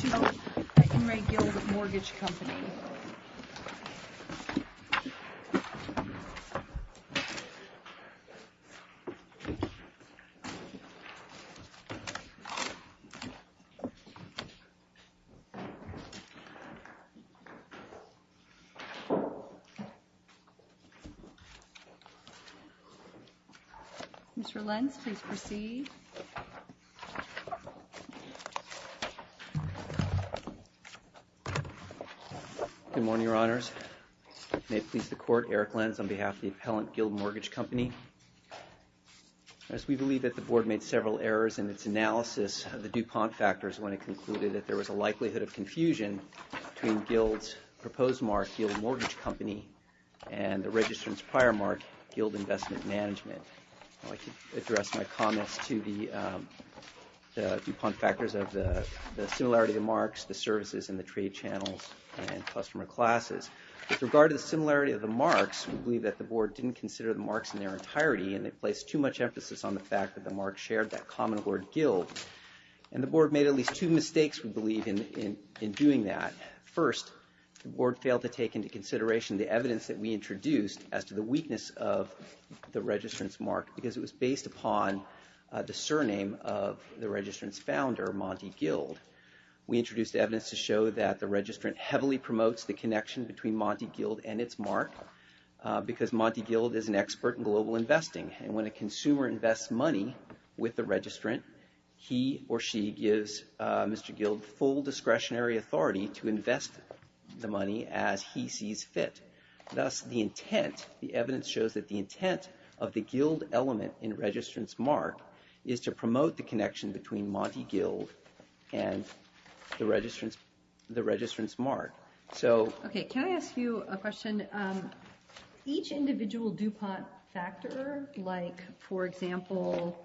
to help at In Re Guild Mortgage Company. Mr. Lentz, please proceed. Good morning, Your Honors. May it please the Court, Eric Lentz on behalf of the Appellant Guild Mortgage Company. As we believe that the Board made several errors in its analysis of the DuPont factors when it concluded that there was a likelihood of confusion between Guild's proposed mark, Guild Mortgage Company, and the registrant's prior mark, Guild Investment Management. I'd like to address my comments to the DuPont factors of the similarity of the marks, the services, and the trade channels and customer classes. With regard to the similarity of the marks, we believe that the Board didn't consider the marks in their entirety and it placed too much emphasis on the fact that the marks shared that common word, Guild. And the Board made at least two mistakes, we believe, in doing that. First, the Board failed to take into consideration the evidence that we introduced as to the weakness of the registrant's mark because it was based upon the surname of the registrant's founder, Monty Guild. We introduced evidence to show that the registrant heavily promotes the connection between Monty Guild and its mark because Monty Guild is an expert in global investing and when a consumer invests money with the registrant, he or she gives Mr. Guild full discretionary authority to invest the money as he sees fit. Thus, the intent, the evidence shows that the intent of the Guild element in registrant's mark is to promote the connection between Monty Guild and the registrant's mark. Okay, can I ask you a question? Each individual DuPont factor, like, for example,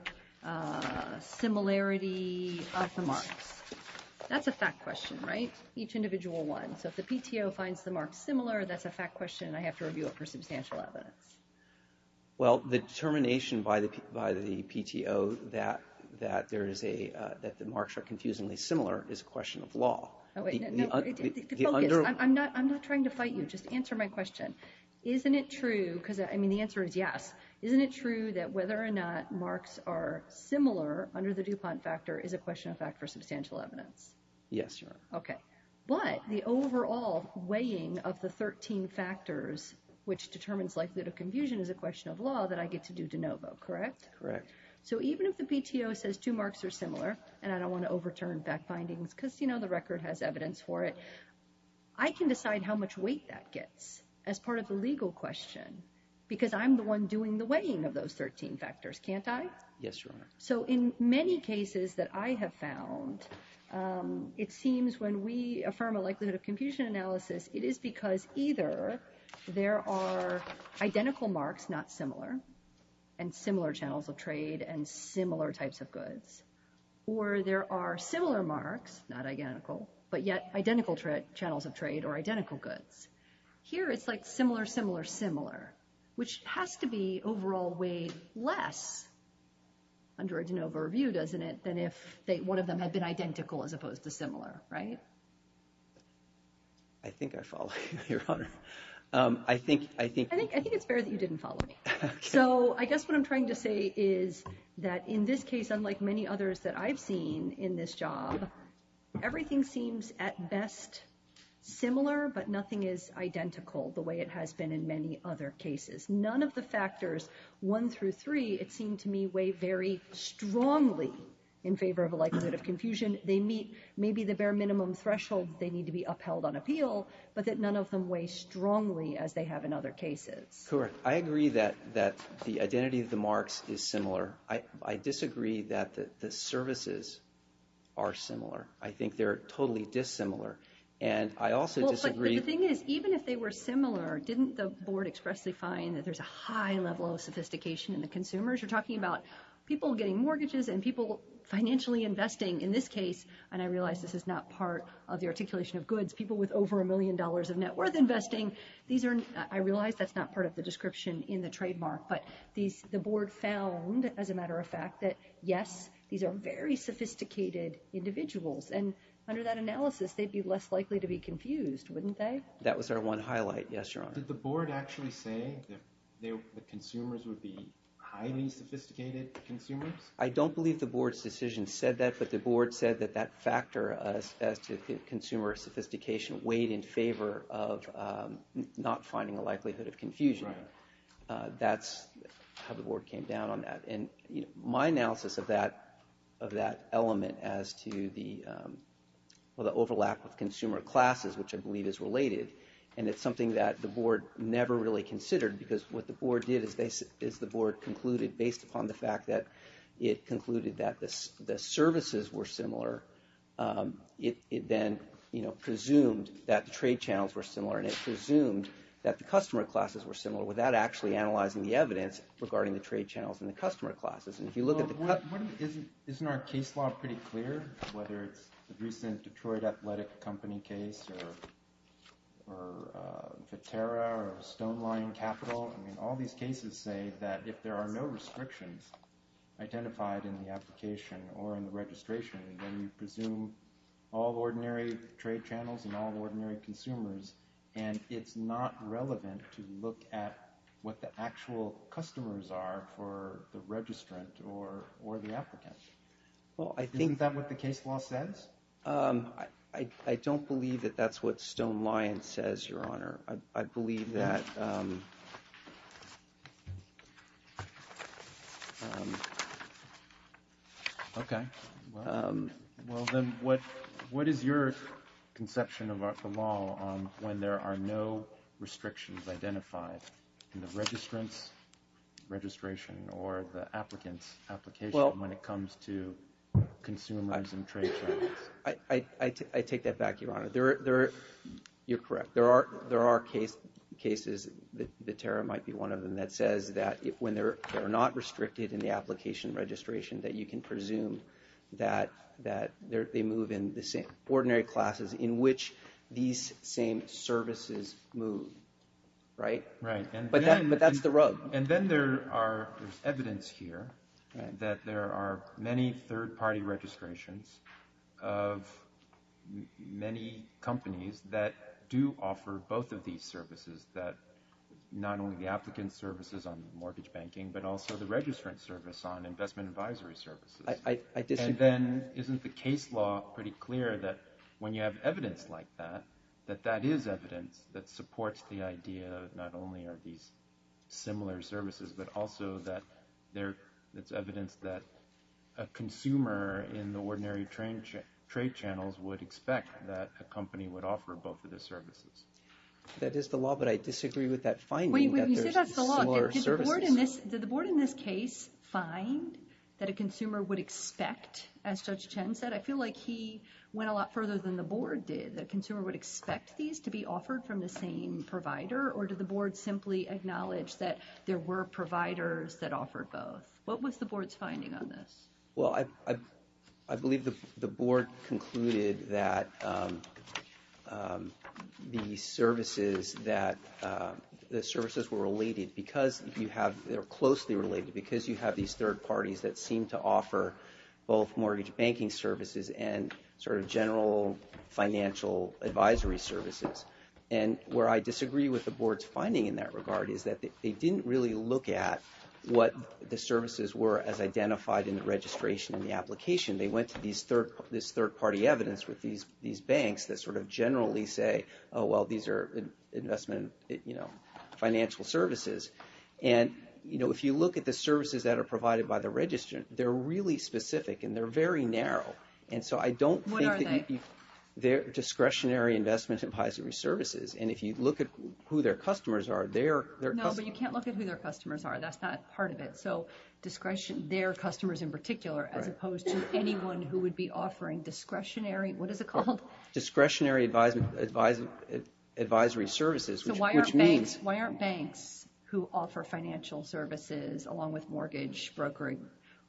similarity of the marks, that's a fact question, right? Each individual one. So if the PTO finds the marks similar, that's a fact question and I have to review it for substantial evidence. Well, the determination by the PTO that the marks are confusingly similar is a question of law. I'm not trying to fight you, just answer my question. Isn't it true, because I mean the answer is yes, isn't it true that whether or not marks are similar under the DuPont factor is a question of fact for substantial evidence? Yes, Your Honor. Okay, but the overall weighing of the 13 factors which determines likelihood of confusion is a question of law that I get to do de novo, correct? Correct. So even if the PTO says two marks are similar, and I don't want to overturn fact findings because, you know, the record has evidence for it, I can decide how much weight that gets as part of the legal question because I'm the one doing the weighing of those 13 factors, can't I? Yes, Your Honor. So in many cases that I have found, it seems when we affirm a likelihood of confusion analysis, it is because either there are identical marks, not similar, and similar channels of trade and similar types of goods, or there are similar marks, not identical, but yet identical channels of trade or identical goods. Here it's like similar, similar, similar, which has to be overall weighed less under a de novo review, doesn't it, than if one of them had been identical as opposed to similar, right? I think I follow you, Your Honor. I think it's fair that you didn't follow me. So I guess what I'm trying to say is that in this case, unlike many others that I've seen in this job, everything seems at best similar, but nothing is identical the way it has been in many other cases. None of the factors one through three, it seemed to me, weigh very strongly in favor of a likelihood of confusion. They meet maybe the bare minimum threshold they need to be upheld on appeal, but that none of them weigh strongly as they have in other cases. Correct. I agree that the identity of the marks is similar. I disagree that the services are similar. I think they're totally dissimilar, and I also disagree. Well, but the thing is, even if they were similar, didn't the Board expressly find that there's a high level of sophistication in the consumers? You're talking about people getting mortgages and people financially investing in this case, and I realize this is not part of the articulation of goods, people with over a million dollars of net worth investing. I realize that's not part of the description in the trademark, but the Board found, as a matter of fact, that yes, these are very sophisticated individuals, and under that analysis, they'd be less likely to be confused, wouldn't they? That was our one highlight, yes, Your Honor. Did the Board actually say that the consumers would be highly sophisticated consumers? I don't believe the Board's decision said that, but the Board said that that factor as to consumer sophistication weighed in favor of not finding a likelihood of confusion. That's how the Board came down on that, and my analysis of that element as to the overlap of consumer classes, which I believe is related, and it's something that the Board never really considered, because what the Board did is the Board concluded, based upon the fact that it concluded that the services were similar, it then presumed that the trade channels were similar, and it presumed that the customer classes were similar, without actually analyzing the evidence regarding the trade channels and the customer classes. Isn't our case law pretty clear, whether it's the recent Detroit Athletic Company case, or Viterra, or Stoneline Capital? I mean, all these cases say that if there are no restrictions identified in the application or in the registration, then you presume all ordinary trade channels and all ordinary consumers, and it's not relevant to look at what the actual customers are for the registrant or the applicant. Isn't that what the case law says? I don't believe that that's what Stoneline says, Your Honor. I believe that – Okay. Well, then what is your conception of the law when there are no restrictions identified in the registrant's registration or the applicant's application when it comes to consumers and trade channels? I take that back, Your Honor. You're correct. There are cases – Viterra might be one of them – that says that when they're not restricted in the application registration, that you can presume that they move in the same ordinary classes in which these same services move. Right? Right. But that's the rub. And then there is evidence here that there are many third-party registrations of many companies that do offer both of these services, not only the applicant services on mortgage banking, but also the registrant service on investment advisory services. I disagree. And then isn't the case law pretty clear that when you have evidence like that, that that is evidence that supports the idea that not only are these similar services, but also that it's evidence that a consumer in the ordinary trade channels would expect that a company would offer both of the services? That is the law, but I disagree with that finding that there's similar services. Did the board in this case find that a consumer would expect, as Judge Chen said? I feel like he went a lot further than the board did, that a consumer would expect these to be offered from the same provider, or did the board simply acknowledge that there were providers that offered both? What was the board's finding on this? Well, I believe the board concluded that the services were related because you have, they're closely related because you have these third parties that seem to offer both mortgage banking services and sort of general financial advisory services. And where I disagree with the board's finding in that regard is that they didn't really look at what the services were as identified in the registration and the application. They went to this third-party evidence with these banks that sort of generally say, oh, well, these are investment, you know, financial services. And, you know, if you look at the services that are provided by the registrant, they're really specific and they're very narrow. And so I don't think that you... What are they? They're discretionary investment advisory services. And if you look at who their customers are, they're... No, but you can't look at who their customers are. That's not part of it. So discretion, their customers in particular, as opposed to anyone who would be offering discretionary, what is it called? Discretionary advisory services, which means...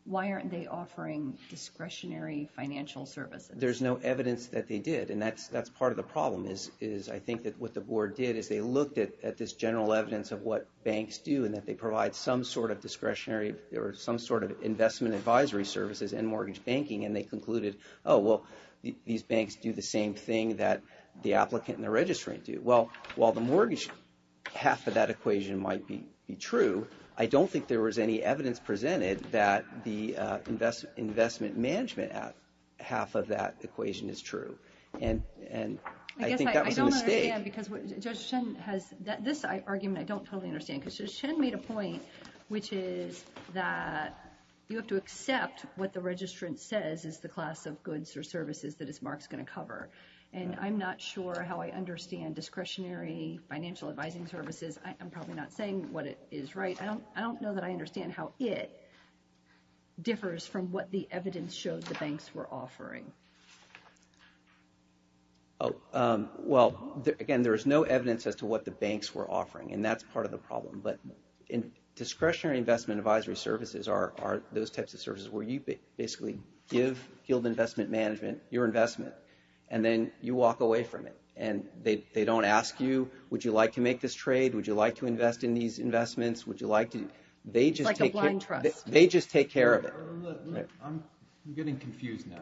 Why aren't they offering discretionary financial services? There's no evidence that they did. And that's part of the problem is I think that what the board did is they looked at this general evidence of what banks do and that they provide some sort of discretionary or some sort of investment advisory services in mortgage banking. And they concluded, oh, well, these banks do the same thing that the applicant and the registrant do. Well, while the mortgage half of that equation might be true, I don't think there was any evidence presented that the investment management half of that equation is true. And I think that was a mistake. I guess I don't understand because Judge Chen has... This argument I don't totally understand because Judge Chen made a point, which is that you have to accept what the registrant says is the class of goods or services that Mark's going to cover. And I'm not sure how I understand discretionary financial advising services. I'm probably not saying what it is right. I don't know that I understand how it differs from what the evidence shows the banks were offering. Oh, well, again, there is no evidence as to what the banks were offering. And that's part of the problem. But discretionary investment advisory services are those types of services where you basically give GILD Investment Management your investment and then you walk away from it. And they don't ask you, would you like to make this trade? Would you like to invest in these investments? Would you like to... It's like a blind trust. They just take care of it. I'm getting confused now.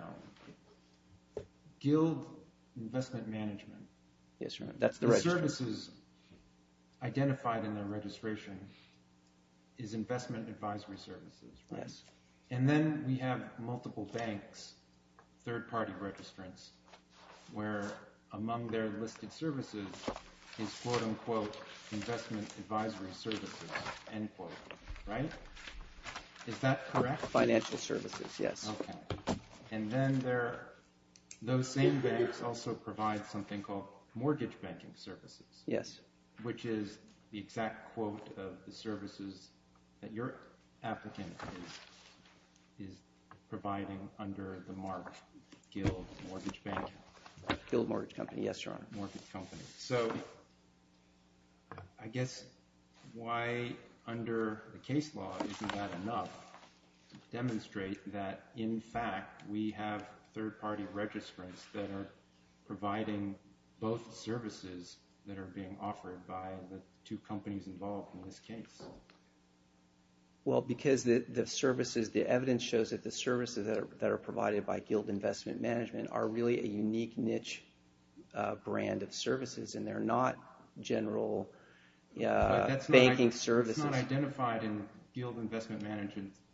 GILD Investment Management. Yes, Your Honor. The services identified in the registration is investment advisory services. And then we have multiple banks, third-party registrants, where among their listed services is quote-unquote investment advisory services, end quote, right? Is that correct? Financial services, yes. Okay. And then those same banks also provide something called mortgage banking services. Yes. Which is the exact quote of the services that your applicant is providing under the mark GILD Mortgage Bank. GILD Mortgage Company. Yes, Your Honor. Mortgage Company. So I guess why under the case law isn't that enough to demonstrate that in fact we have third-party registrants that are providing both services that are being offered by the two companies involved in this case? Well, because the services, the evidence shows that the services that are provided by GILD Investment Management are really a unique niche brand of services, and they're not general banking services. But that's not identified in GILD Investment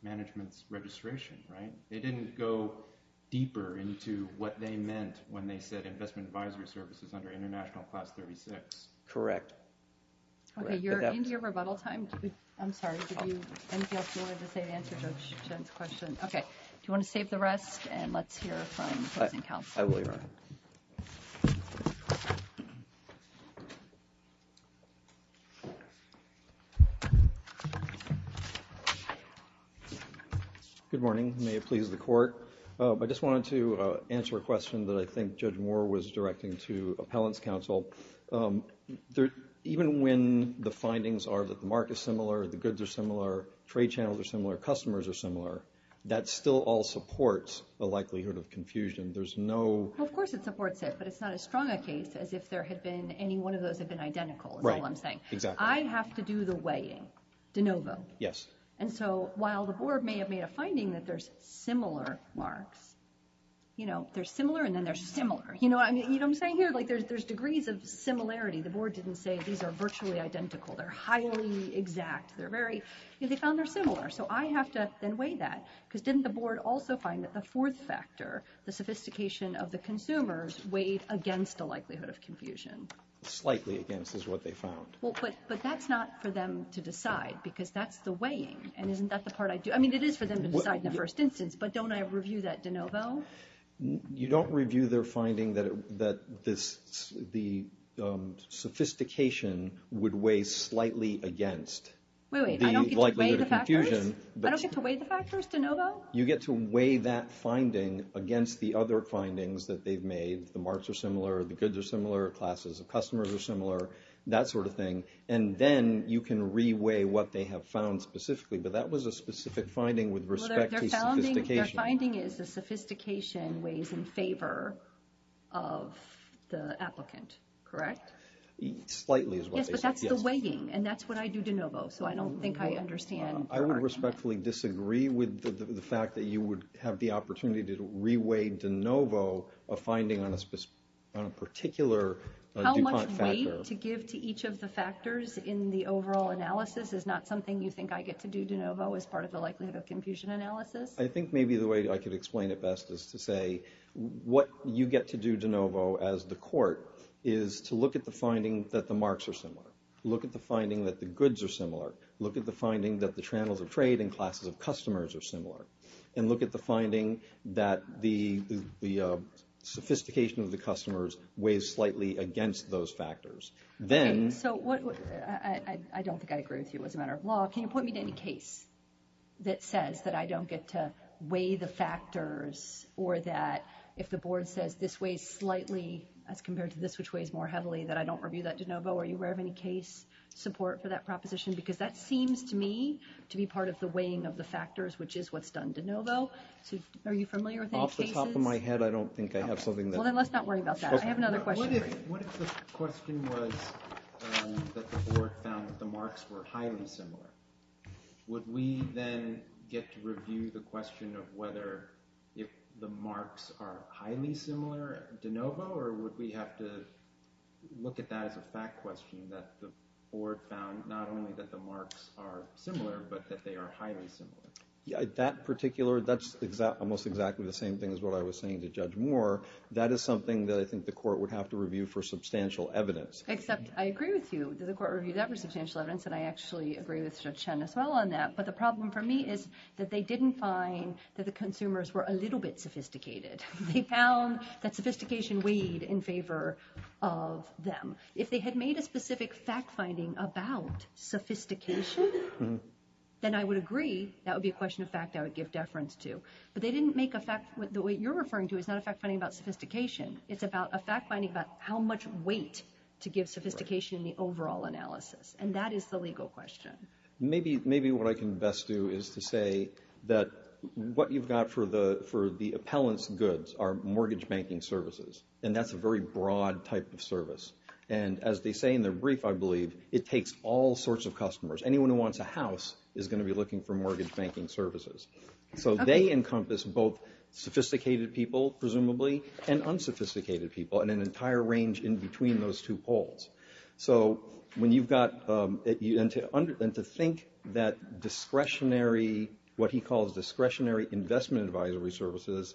Management's registration, right? They didn't go deeper into what they meant when they said investment advisory services under International Class 36. Correct. Okay. You're into your rebuttal time. I'm sorry. Did you have anything else you wanted to say to answer Judge Chen's question? Okay. Do you want to save the rest, and let's hear from the closing counsel? I will, Your Honor. Good morning. May it please the Court. I just wanted to answer a question that I think Judge Moore was directing to appellant's counsel. Even when the findings are that the market is similar, the goods are similar, trade channels are similar, customers are similar, that still all supports a likelihood of confusion. There's no... Well, of course it supports it, but it's not as strong a case as if there had been any one of those have been identical, is all I'm saying. Right. Exactly. I have to do the weighing de novo. Yes. And so while the Board may have made a finding that there's similar marks, you know, they're similar and then they're similar. You know what I'm saying here? Like there's degrees of similarity. The Board didn't say these are virtually identical. They're highly exact. They're very, you know, they found they're similar. So I have to then weigh that because didn't the Board also find that the fourth factor, the sophistication of the consumers weighed against the likelihood of confusion? Slightly against is what they found. Well, but that's not for them to decide because that's the weighing and isn't that the part I do... I mean, it is for them to decide in the first instance, but don't I review that de novo? You don't review their finding that the sophistication would weigh slightly against... Wait, wait. I don't get to weigh the factors? I don't get to weigh the factors de novo? You get to weigh that finding against the other findings that they've made. The marks are similar. The goods are similar. Classes of customers are similar. That sort of thing. And then you can re-weigh what they have found specifically, but that was a specific finding with respect to sophistication. Their finding is the sophistication weighs in favor of the applicant, correct? Slightly is what they said, yes. Yes, but that's the weighing and that's what I do de novo. So I don't think I understand. I would respectfully disagree with the fact that you would have the opportunity to re-weigh de novo, a finding on a particular DuPont factor. How much weight to give to each of the factors in the overall analysis is not something you think I get to do de novo as part of the likelihood of confusion analysis? I think maybe the way I could explain it best is to say what you get to do de novo as the court is to look at the finding that the marks are similar. Look at the finding that the goods are similar. Look at the finding that the channels of trade and classes of customers are similar. And look at the finding that the sophistication of the customers weighs slightly against those factors. Okay, so I don't think I agree with you as a matter of law. Can you point me to any case that says that I don't get to weigh the factors or that if the board says this weighs slightly as compared to this, which weighs more heavily, that I don't review that de novo? Are you aware of any case support for that proposition? Because that seems to me to be part of the weighing of the factors, which is what's done de novo. Are you familiar with any cases? Off the top of my head, I don't think I have something that – Well, then let's not worry about that. I have another question for you. What if the question was that the board found that the marks were highly similar? Would we then get to review the question of whether if the marks are highly similar de novo or would we have to look at that as a fact question that the board found not only that the marks are similar but that they are highly similar? That particular – that's almost exactly the same thing as what I was saying to Judge Moore. That is something that I think the court would have to review for substantial evidence. Except I agree with you that the court reviewed that for substantial evidence, and I actually agree with Judge Chen as well on that. But the problem for me is that they didn't find that the consumers were a little bit sophisticated. They found that sophistication weighed in favor of them. If they had made a specific fact-finding about sophistication, then I would agree that would be a question of fact I would give deference to. But they didn't make a fact – the way you're referring to is not a fact-finding about sophistication. It's about a fact-finding about how much weight to give sophistication in the overall analysis, and that is the legal question. Maybe what I can best do is to say that what you've got for the appellant's goods are mortgage banking services, and that's a very broad type of service. And as they say in their brief, I believe, it takes all sorts of customers. Anyone who wants a house is going to be looking for mortgage banking services. So they encompass both sophisticated people, presumably, and unsophisticated people in an entire range in between those two poles. So when you've got – and to think that discretionary – what he calls discretionary investment advisory services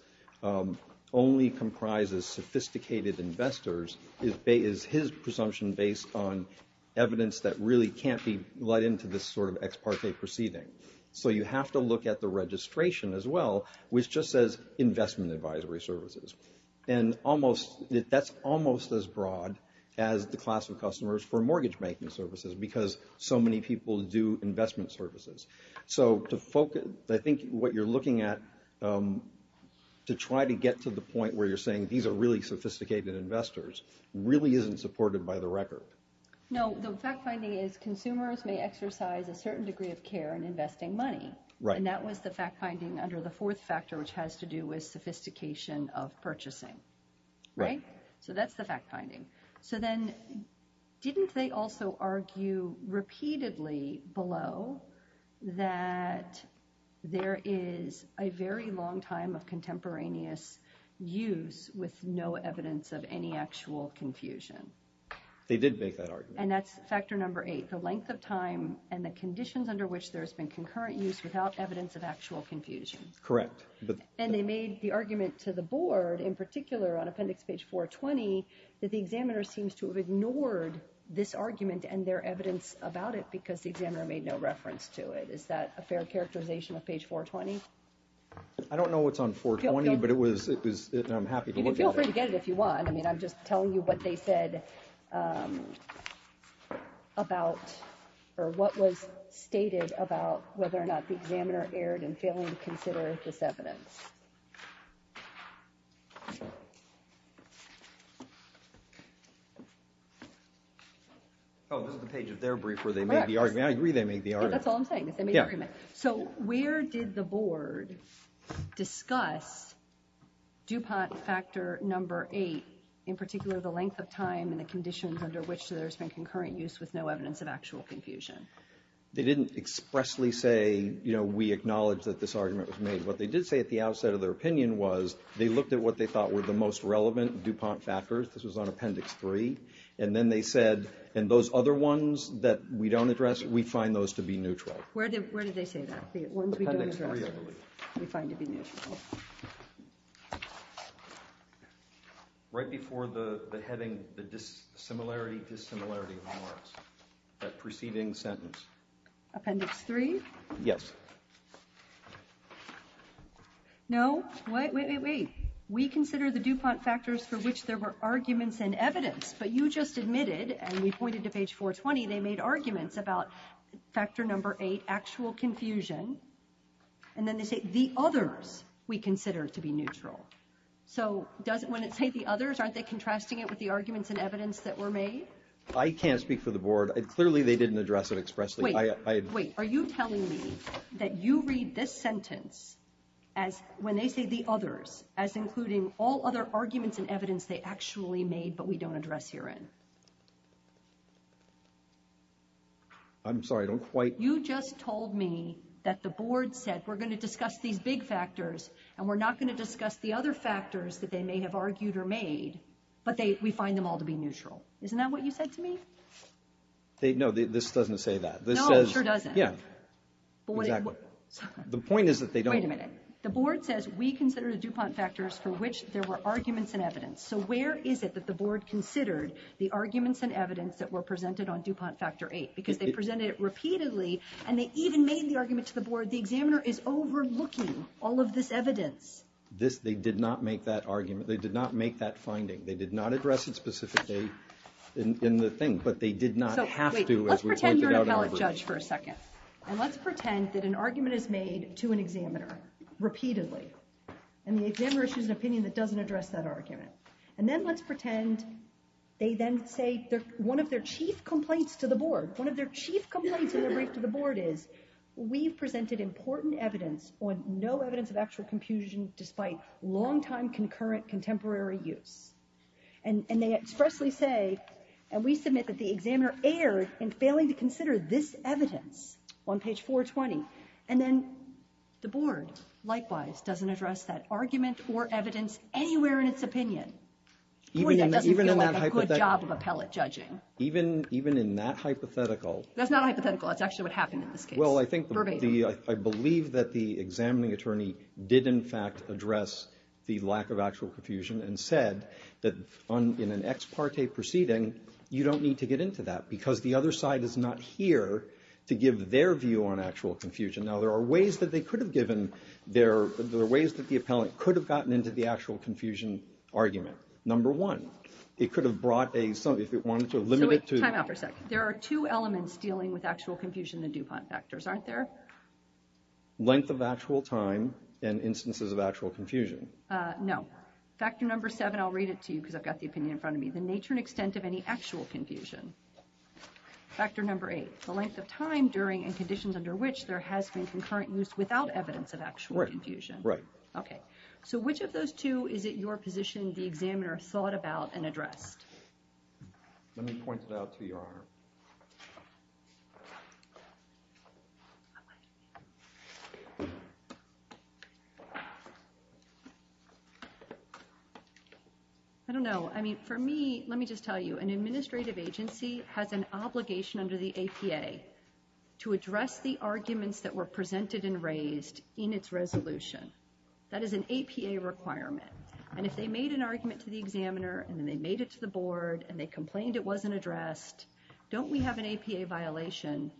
only comprises sophisticated investors is his presumption based on evidence that really can't be let into this sort of ex parte proceeding. So you have to look at the registration as well, which just says investment advisory services. And almost – that's almost as broad as the class of customers for mortgage banking services because so many people do investment services. So to focus – I think what you're looking at to try to get to the point where you're saying these are really sophisticated investors really isn't supported by the record. No, the fact-finding is consumers may exercise a certain degree of care in investing money. Right. And that was the fact-finding under the fourth factor, which has to do with sophistication of purchasing. Right. So that's the fact-finding. So then didn't they also argue repeatedly below that there is a very long time of contemporaneous use with no evidence of any actual confusion? They did make that argument. And that's factor number eight. And the conditions under which there has been concurrent use without evidence of actual confusion. Correct. And they made the argument to the board in particular on appendix page 420 that the examiner seems to have ignored this argument and their evidence about it because the examiner made no reference to it. Is that a fair characterization of page 420? I don't know what's on 420, but it was – and I'm happy to look at it. You can feel free to get it if you want. I mean, I'm just telling you what they said about – or what was stated about whether or not the examiner erred in failing to consider this evidence. Oh, this is the page of their brief where they made the argument. I agree they made the argument. That's all I'm saying is they made the argument. Yeah. So where did the board discuss DuPont factor number eight, in particular the length of time and the conditions under which there has been concurrent use with no evidence of actual confusion? They didn't expressly say, you know, we acknowledge that this argument was made. What they did say at the outset of their opinion was they looked at what they thought were the most relevant DuPont factors. This was on appendix 3. And then they said, and those other ones that we don't address, we find those to be neutral. Where did they say that? Appendix 3, I believe. The ones we don't address we find to be neutral. Right before the heading, the dissimilarity, dissimilarity remarks. That preceding sentence. Appendix 3? Yes. No. Wait, wait, wait. We consider the DuPont factors for which there were arguments and evidence, but you just admitted, and we pointed to page 420, they made arguments about factor number 8, actual confusion. And then they say the others we consider to be neutral. So when it says the others, aren't they contrasting it with the arguments and evidence that were made? I can't speak for the board. Clearly they didn't address it expressly. Wait, wait. Are you telling me that you read this sentence as, when they say the others, as including all other arguments and evidence they actually made but we don't address herein? I'm sorry, I don't quite. You just told me that the board said we're going to discuss these big factors and we're not going to discuss the other factors that they may have argued or made, but we find them all to be neutral. Isn't that what you said to me? No, this doesn't say that. No, it sure doesn't. Yeah. Exactly. The point is that they don't. Wait a minute. The board says we consider the DuPont factors for which there were arguments and evidence. So where is it that the board considered the arguments and evidence that were presented on DuPont factor 8? Because they presented it repeatedly and they even made the argument to the board. The examiner is overlooking all of this evidence. They did not make that argument. They did not make that finding. They did not address it specifically in the thing, but they did not have to as we pointed out in the report. Wait, let's pretend you're an appellate judge for a second. And let's pretend that an argument is made to an examiner repeatedly and the examiner issues an opinion that doesn't address that argument. And then let's pretend they then say one of their chief complaints to the board, one of their chief complaints in their brief to the board is we've presented important evidence on no evidence of actual confusion despite long-time concurrent contemporary use. And they expressly say, and we submit that the examiner erred in failing to consider this evidence on page 420. And then the board, likewise, doesn't address that argument or evidence anywhere in its opinion. Boy, that doesn't feel like a good job of appellate judging. Even in that hypothetical. That's not a hypothetical. That's actually what happened in this case. Well, I believe that the examining attorney did in fact address the lack of actual confusion and said that in an ex parte proceeding, you don't need to get into that because the other side is not here to give their view on actual confusion. Now, there are ways that they could have given their, there are ways that the appellate could have gotten into the actual confusion argument. Number one, it could have brought a, if it wanted to limit it to. So wait, time out for a sec. There are two elements dealing with actual confusion in the DuPont factors, aren't there? Length of actual time and instances of actual confusion. No. Factor number seven, I'll read it to you because I've got the opinion in front of me. The nature and extent of any actual confusion. Factor number eight, the length of time during and conditions under which there has been concurrent use without evidence of actual confusion. Right. Okay. So which of those two is it your position the examiner thought about and addressed? Let me point it out to Your Honor. I don't know. I mean, for me, let me just tell you, an administrative agency has an obligation under the APA to address the arguments that were presented and raised in its resolution. That is an APA requirement. And if they made an argument to the examiner and then they made it to the board and they complained it wasn't addressed, don't we have an APA violation?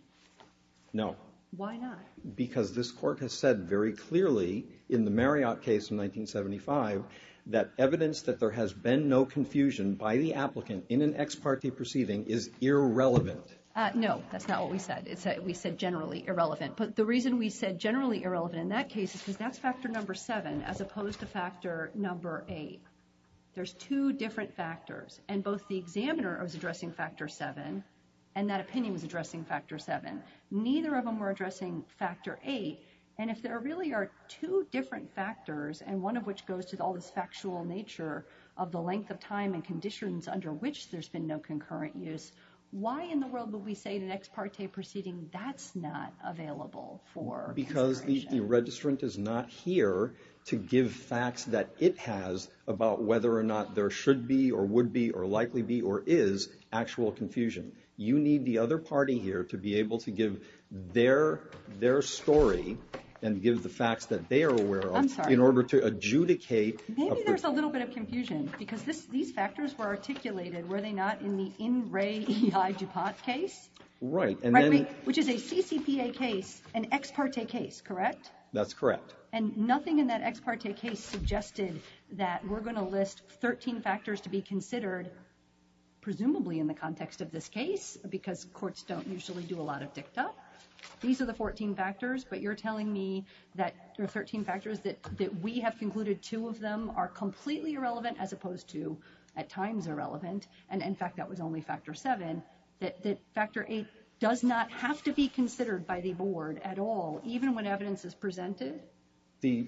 No. Why not? Because this court has said very clearly in the Marriott case in 1975 that evidence that there has been no confusion by the applicant in an ex parte proceeding is irrelevant. No, that's not what we said. We said generally irrelevant. But the reason we said generally irrelevant in that case is because that's factor number seven as opposed to factor number eight. There's two different factors. And both the examiner was addressing factor seven, and that opinion was addressing factor seven. Neither of them were addressing factor eight. And if there really are two different factors, and one of which goes to all this factual nature of the length of time and conditions under which there's been no concurrent use, why in the world would we say in an ex parte proceeding that's not available for consideration? Because the registrant is not here to give facts that it has about whether or not there should be or would be or likely be or is actual confusion. You need the other party here to be able to give their story and give the facts that they are aware of in order to adjudicate. I'm sorry. Maybe there's a little bit of confusion because these factors were articulated, were they not, in the N. Ray E. I. DuPont case? Right. Which is a CCPA case, an ex parte case, correct? That's correct. And nothing in that ex parte case suggested that we're going to list 13 factors to be considered, presumably in the context of this case, because courts don't usually do a lot of dicta. These are the 14 factors, but you're telling me that there are 13 factors that we have concluded two of them are completely irrelevant as opposed to at times irrelevant, and, in fact, that was only factor seven, that factor eight does not have to be considered by the board at all, even when evidence is presented? Is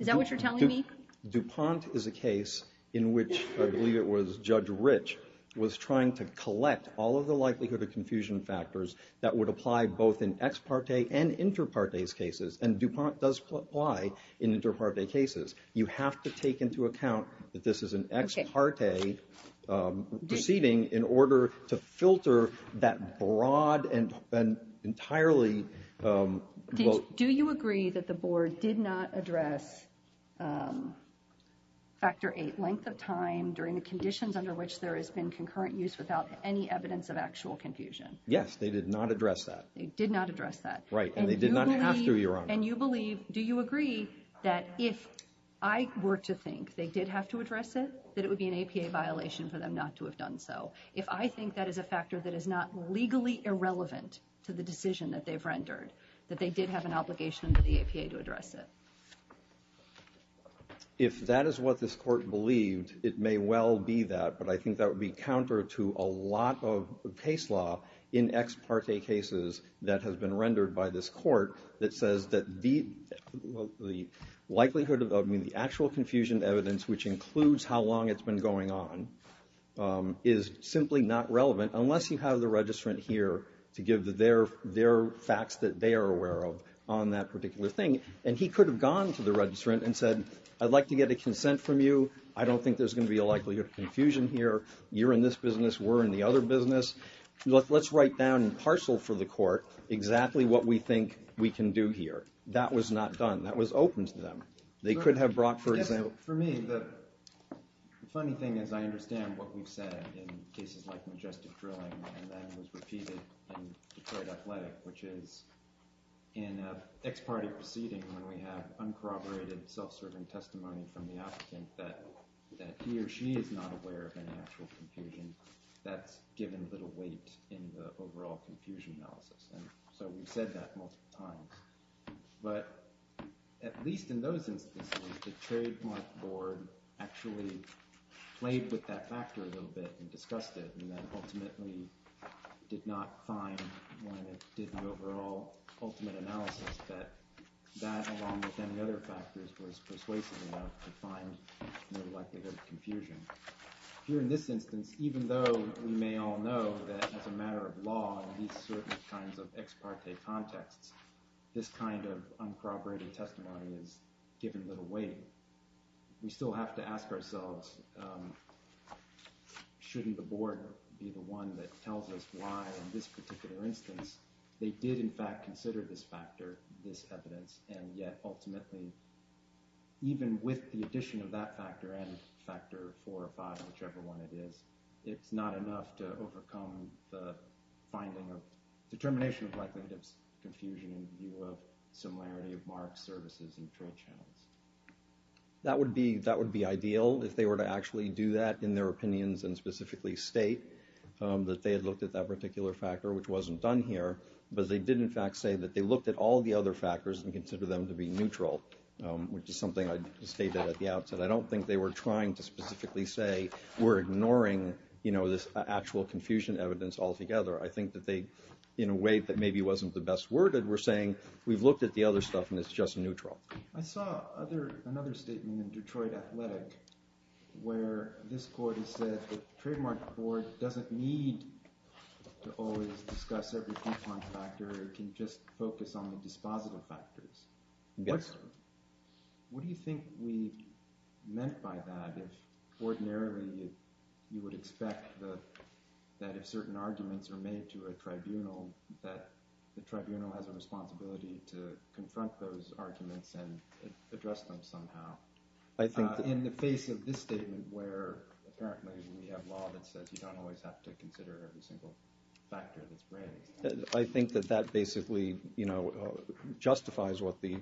that what you're telling me? DuPont is a case in which, I believe it was Judge Rich, was trying to collect all of the likelihood of confusion factors that would apply both in ex parte and inter parte cases, and DuPont does apply in inter parte cases. You have to take into account that this is an ex parte proceeding in order to filter that broad and entirely both. Do you agree that the board did not address factor eight length of time during the conditions under which there has been concurrent use without any evidence of actual confusion? Yes, they did not address that. They did not address that. Right, and they did not have to, Your Honor. And you believe, do you agree, that if I were to think they did have to address it, that it would be an APA violation for them not to have done so? If I think that is a factor that is not legally irrelevant to the decision that they've rendered, that they did have an obligation under the APA to address it? If that is what this court believed, it may well be that, but I think that would be counter to a lot of case law in ex parte cases that has been rendered by this court that says that the likelihood of, I mean, the actual confusion evidence, which includes how long it's been going on, is simply not relevant unless you have the registrant here to give their facts that they are aware of on that particular thing. And he could have gone to the registrant and said, I'd like to get a consent from you. I don't think there's going to be a likelihood of confusion here. You're in this business. We're in the other business. Let's write down in parcel for the court exactly what we think we can do here. That was not done. That was open to them. They could have brought, for example— For me, the funny thing is I understand what we've said in cases like Majestic Drilling and that was repeated in Detroit Athletic, which is in an ex parte proceeding when we have uncorroborated self-serving testimony from the applicant that he or she is not aware of any actual confusion, that's given little weight in the overall confusion analysis. And so we've said that multiple times. But at least in those instances, the trademark board actually played with that factor a little bit and discussed it and then ultimately did not find when it did the overall ultimate analysis that that along with any other factors was persuasive enough to find the likelihood of confusion. Here in this instance, even though we may all know that as a matter of law in these certain kinds of ex parte contexts, this kind of uncorroborated testimony is given little weight. We still have to ask ourselves, shouldn't the board be the one that tells us why in this particular instance they did in fact consider this factor, this evidence, and yet ultimately, even with the addition of that factor and factor four or five, whichever one it is, it's not enough to overcome the finding of determination of likelihood of confusion in view of similarity of marks, services, and trade channels. That would be ideal if they were to actually do that in their opinions and specifically state that they had looked at that particular factor, which wasn't done here, but they did in fact say that they looked at all the other factors and considered them to be neutral, which is something I stated at the outset. I don't think they were trying to specifically say, we're ignoring this actual confusion evidence altogether. I think that they, in a way that maybe wasn't the best worded, were saying, we've looked at the other stuff and it's just neutral. I saw another statement in Detroit Athletic where this court has said, the trademark board doesn't need to always discuss every confound factor. It can just focus on the dispositive factors. What do you think we meant by that? If ordinarily you would expect that if certain arguments are made to a tribunal, that the tribunal has a responsibility to confront those arguments and address them somehow. In the face of this statement where apparently we have law that says you don't always have to consider every single factor that's branded. I think that that basically justifies what the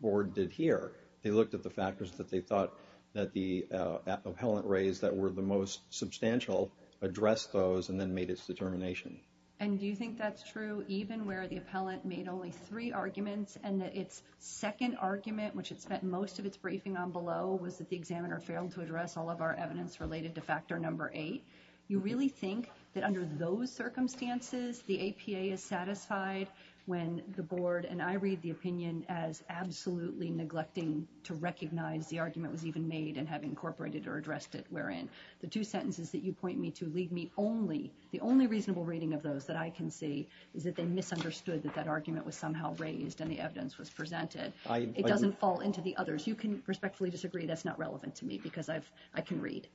board did here. They looked at the factors that they thought that the appellant raised that were the most substantial, addressed those, and then made its determination. And do you think that's true even where the appellant made only three arguments and that its second argument, which it spent most of its briefing on below, was that the examiner failed to address all of our evidence related to factor number eight? You really think that under those circumstances the APA is satisfied when the board, and I read the opinion as absolutely neglecting to recognize the argument was even made and have incorporated or addressed it wherein the two sentences that you point me to leave me only, the only reasonable reading of those that I can see is that they misunderstood that that argument was somehow raised and the evidence was presented. It doesn't fall into the others. You can respectfully disagree that's not relevant to me because I can read.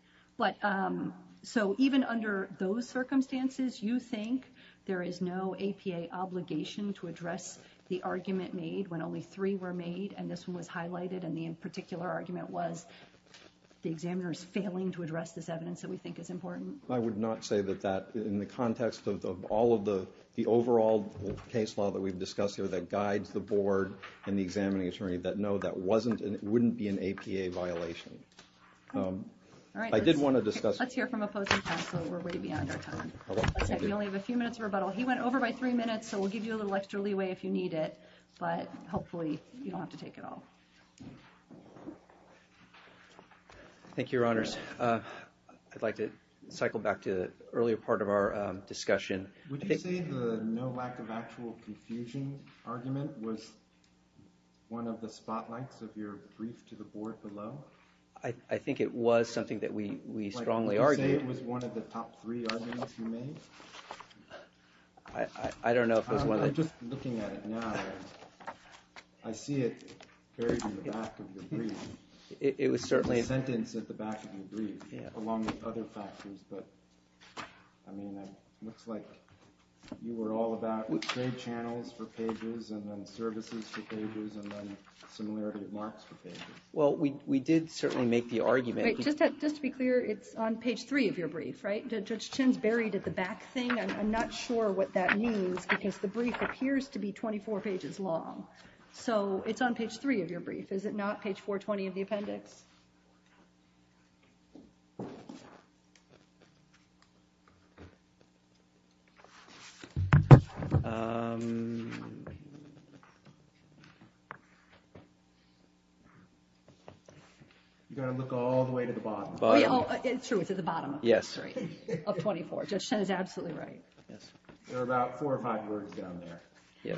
So even under those circumstances you think there is no APA obligation to address the argument made when only three were made and this one was highlighted and the particular argument was the examiner's failing to address this evidence that we think is important? I would not say that that in the context of all of the overall case law that we've discussed here that guides the board and the examining attorney that no, that wouldn't be an APA violation. All right. I did want to discuss. Let's hear from opposing counsel. We're way beyond our time. We only have a few minutes of rebuttal. He went over by three minutes, so we'll give you a little extra leeway if you need it. But hopefully you don't have to take it all. Thank you, Your Honors. I'd like to cycle back to the earlier part of our discussion. Would you say the no lack of actual confusion argument was one of the spotlights of your brief to the board below? I think it was something that we strongly argued. Would you say it was one of the top three arguments you made? I don't know if it was one of the… I'm just looking at it now. I see it buried in the back of your brief. It was certainly… Sentenced at the back of your brief along with other factors. But, I mean, it looks like you were all about trade channels for pages and then services for pages and then similarity marks for pages. Well, we did certainly make the argument. Just to be clear, it's on page three of your brief, right? Judge Chin's buried at the back thing. I'm not sure what that means because the brief appears to be 24 pages long. So it's on page three of your brief. Is it not page 420 of the appendix? You've got to look all the way to the bottom. It's true. It's at the bottom. Yes. Of 24. Judge Chin is absolutely right. There are about four or five words down there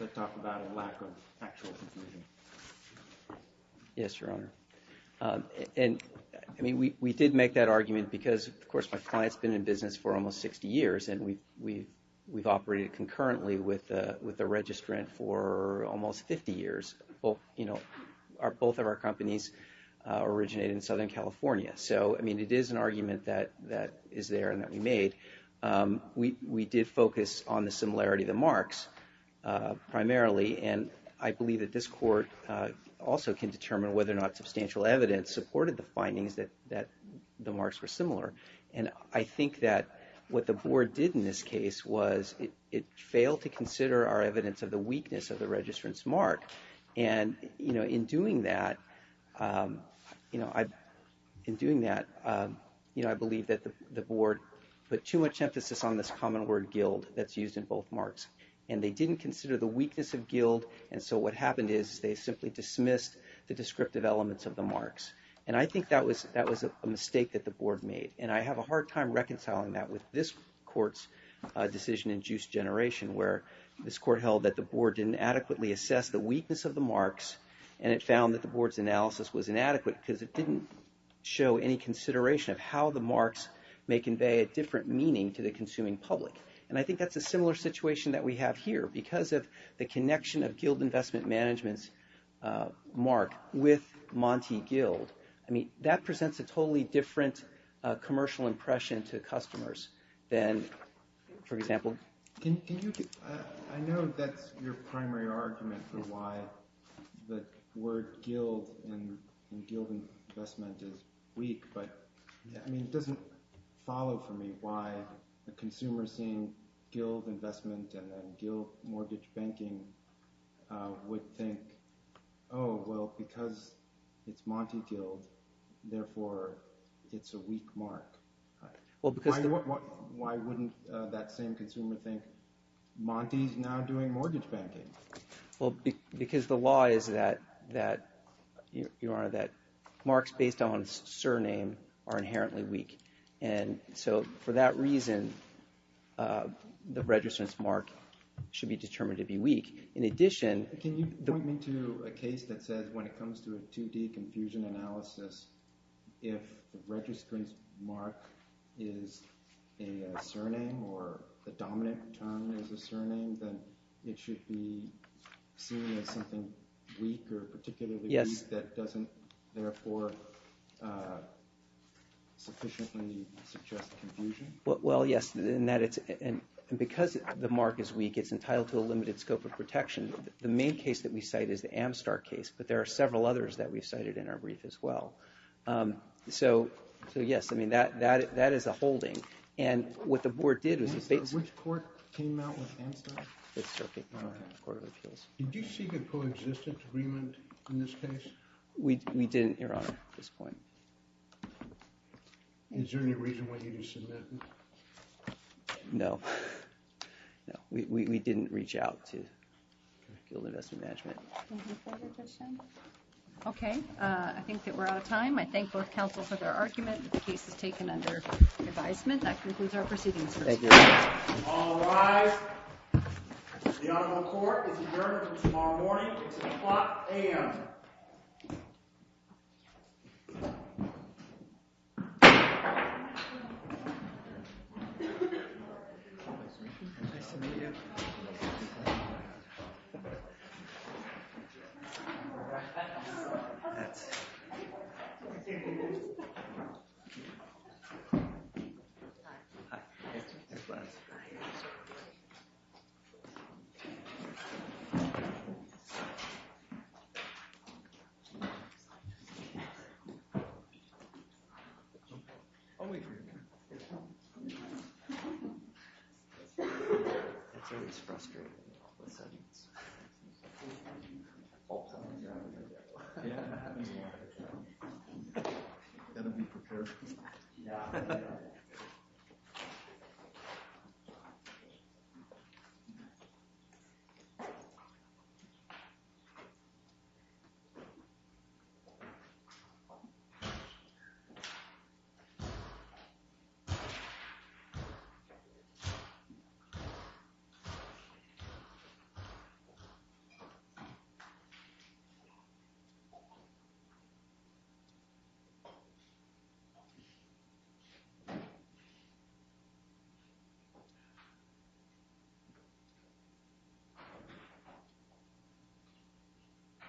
that talk about a lack of actual confusion. Yes, Your Honor. And, I mean, we did make that argument because, of course, my client's been in business for almost 60 years and we've operated concurrently with a registrant for almost 50 years. Both of our companies originate in Southern California. So, I mean, it is an argument that is there and that we made. We did focus on the similarity of the marks primarily, and I believe that this court also can determine whether or not substantial evidence supported the findings that the marks were similar. And I think that what the board did in this case was it failed to consider our evidence of the weakness of the registrant's mark. And, you know, in doing that, you know, in doing that, you know, I believe that the board put too much emphasis on this common word, guild, that's used in both marks. And they didn't consider the weakness of guild. And so what happened is they simply dismissed the descriptive elements of the marks. And I think that was a mistake that the board made. And I have a hard time reconciling that with this court's decision in Juice Generation, where this court held that the board didn't adequately assess the weakness of the marks and it found that the board's analysis was inadequate because it didn't show any consideration of how the marks may convey a different meaning to the consuming public. And I think that's a similar situation that we have here because of the connection of guild investment management's mark with Monty Guild. I mean, that presents a totally different commercial impression to customers than, for example. I know that's your primary argument for why the word guild and guild investment is weak, but it doesn't follow for me why a consumer seeing guild investment and guild mortgage banking would think, oh, well, because it's Monty Guild, therefore, it's a weak mark. Why wouldn't that same consumer think Monty is now doing mortgage banking? Well, because the law is that marks based on surname are inherently weak. And so for that reason, the registrant's mark should be determined to be weak. Can you point me to a case that says when it comes to a 2D confusion analysis, if the registrant's mark is a surname or the dominant term is a surname, then it should be seen as something weak or particularly weak that doesn't, therefore, sufficiently suggest confusion? Well, yes, and because the mark is weak, it's entitled to a limited scope of protection. The main case that we cite is the Amstar case, but there are several others that we've cited in our brief as well. So, yes, I mean, that is a holding. And what the board did was... Which court came out with Amstar? Fifth Circuit Court of Appeals. Did you seek a coexistence agreement in this case? We didn't, Your Honor, at this point. Is there any reason why you didn't submit? No. No, we didn't reach out to Guild Investment Management. Any further questions? Okay, I think that we're out of time. I thank both counsel for their argument. The case is taken under advisement. That concludes our proceedings. Thank you. All rise. The Honorable Court is adjourned until tomorrow morning. It's o'clock a.m. Thank you. I'll wait for you here. That's always frustrating. Yeah, that happens a lot. Better be prepared. Yeah. Thank you. Thank you.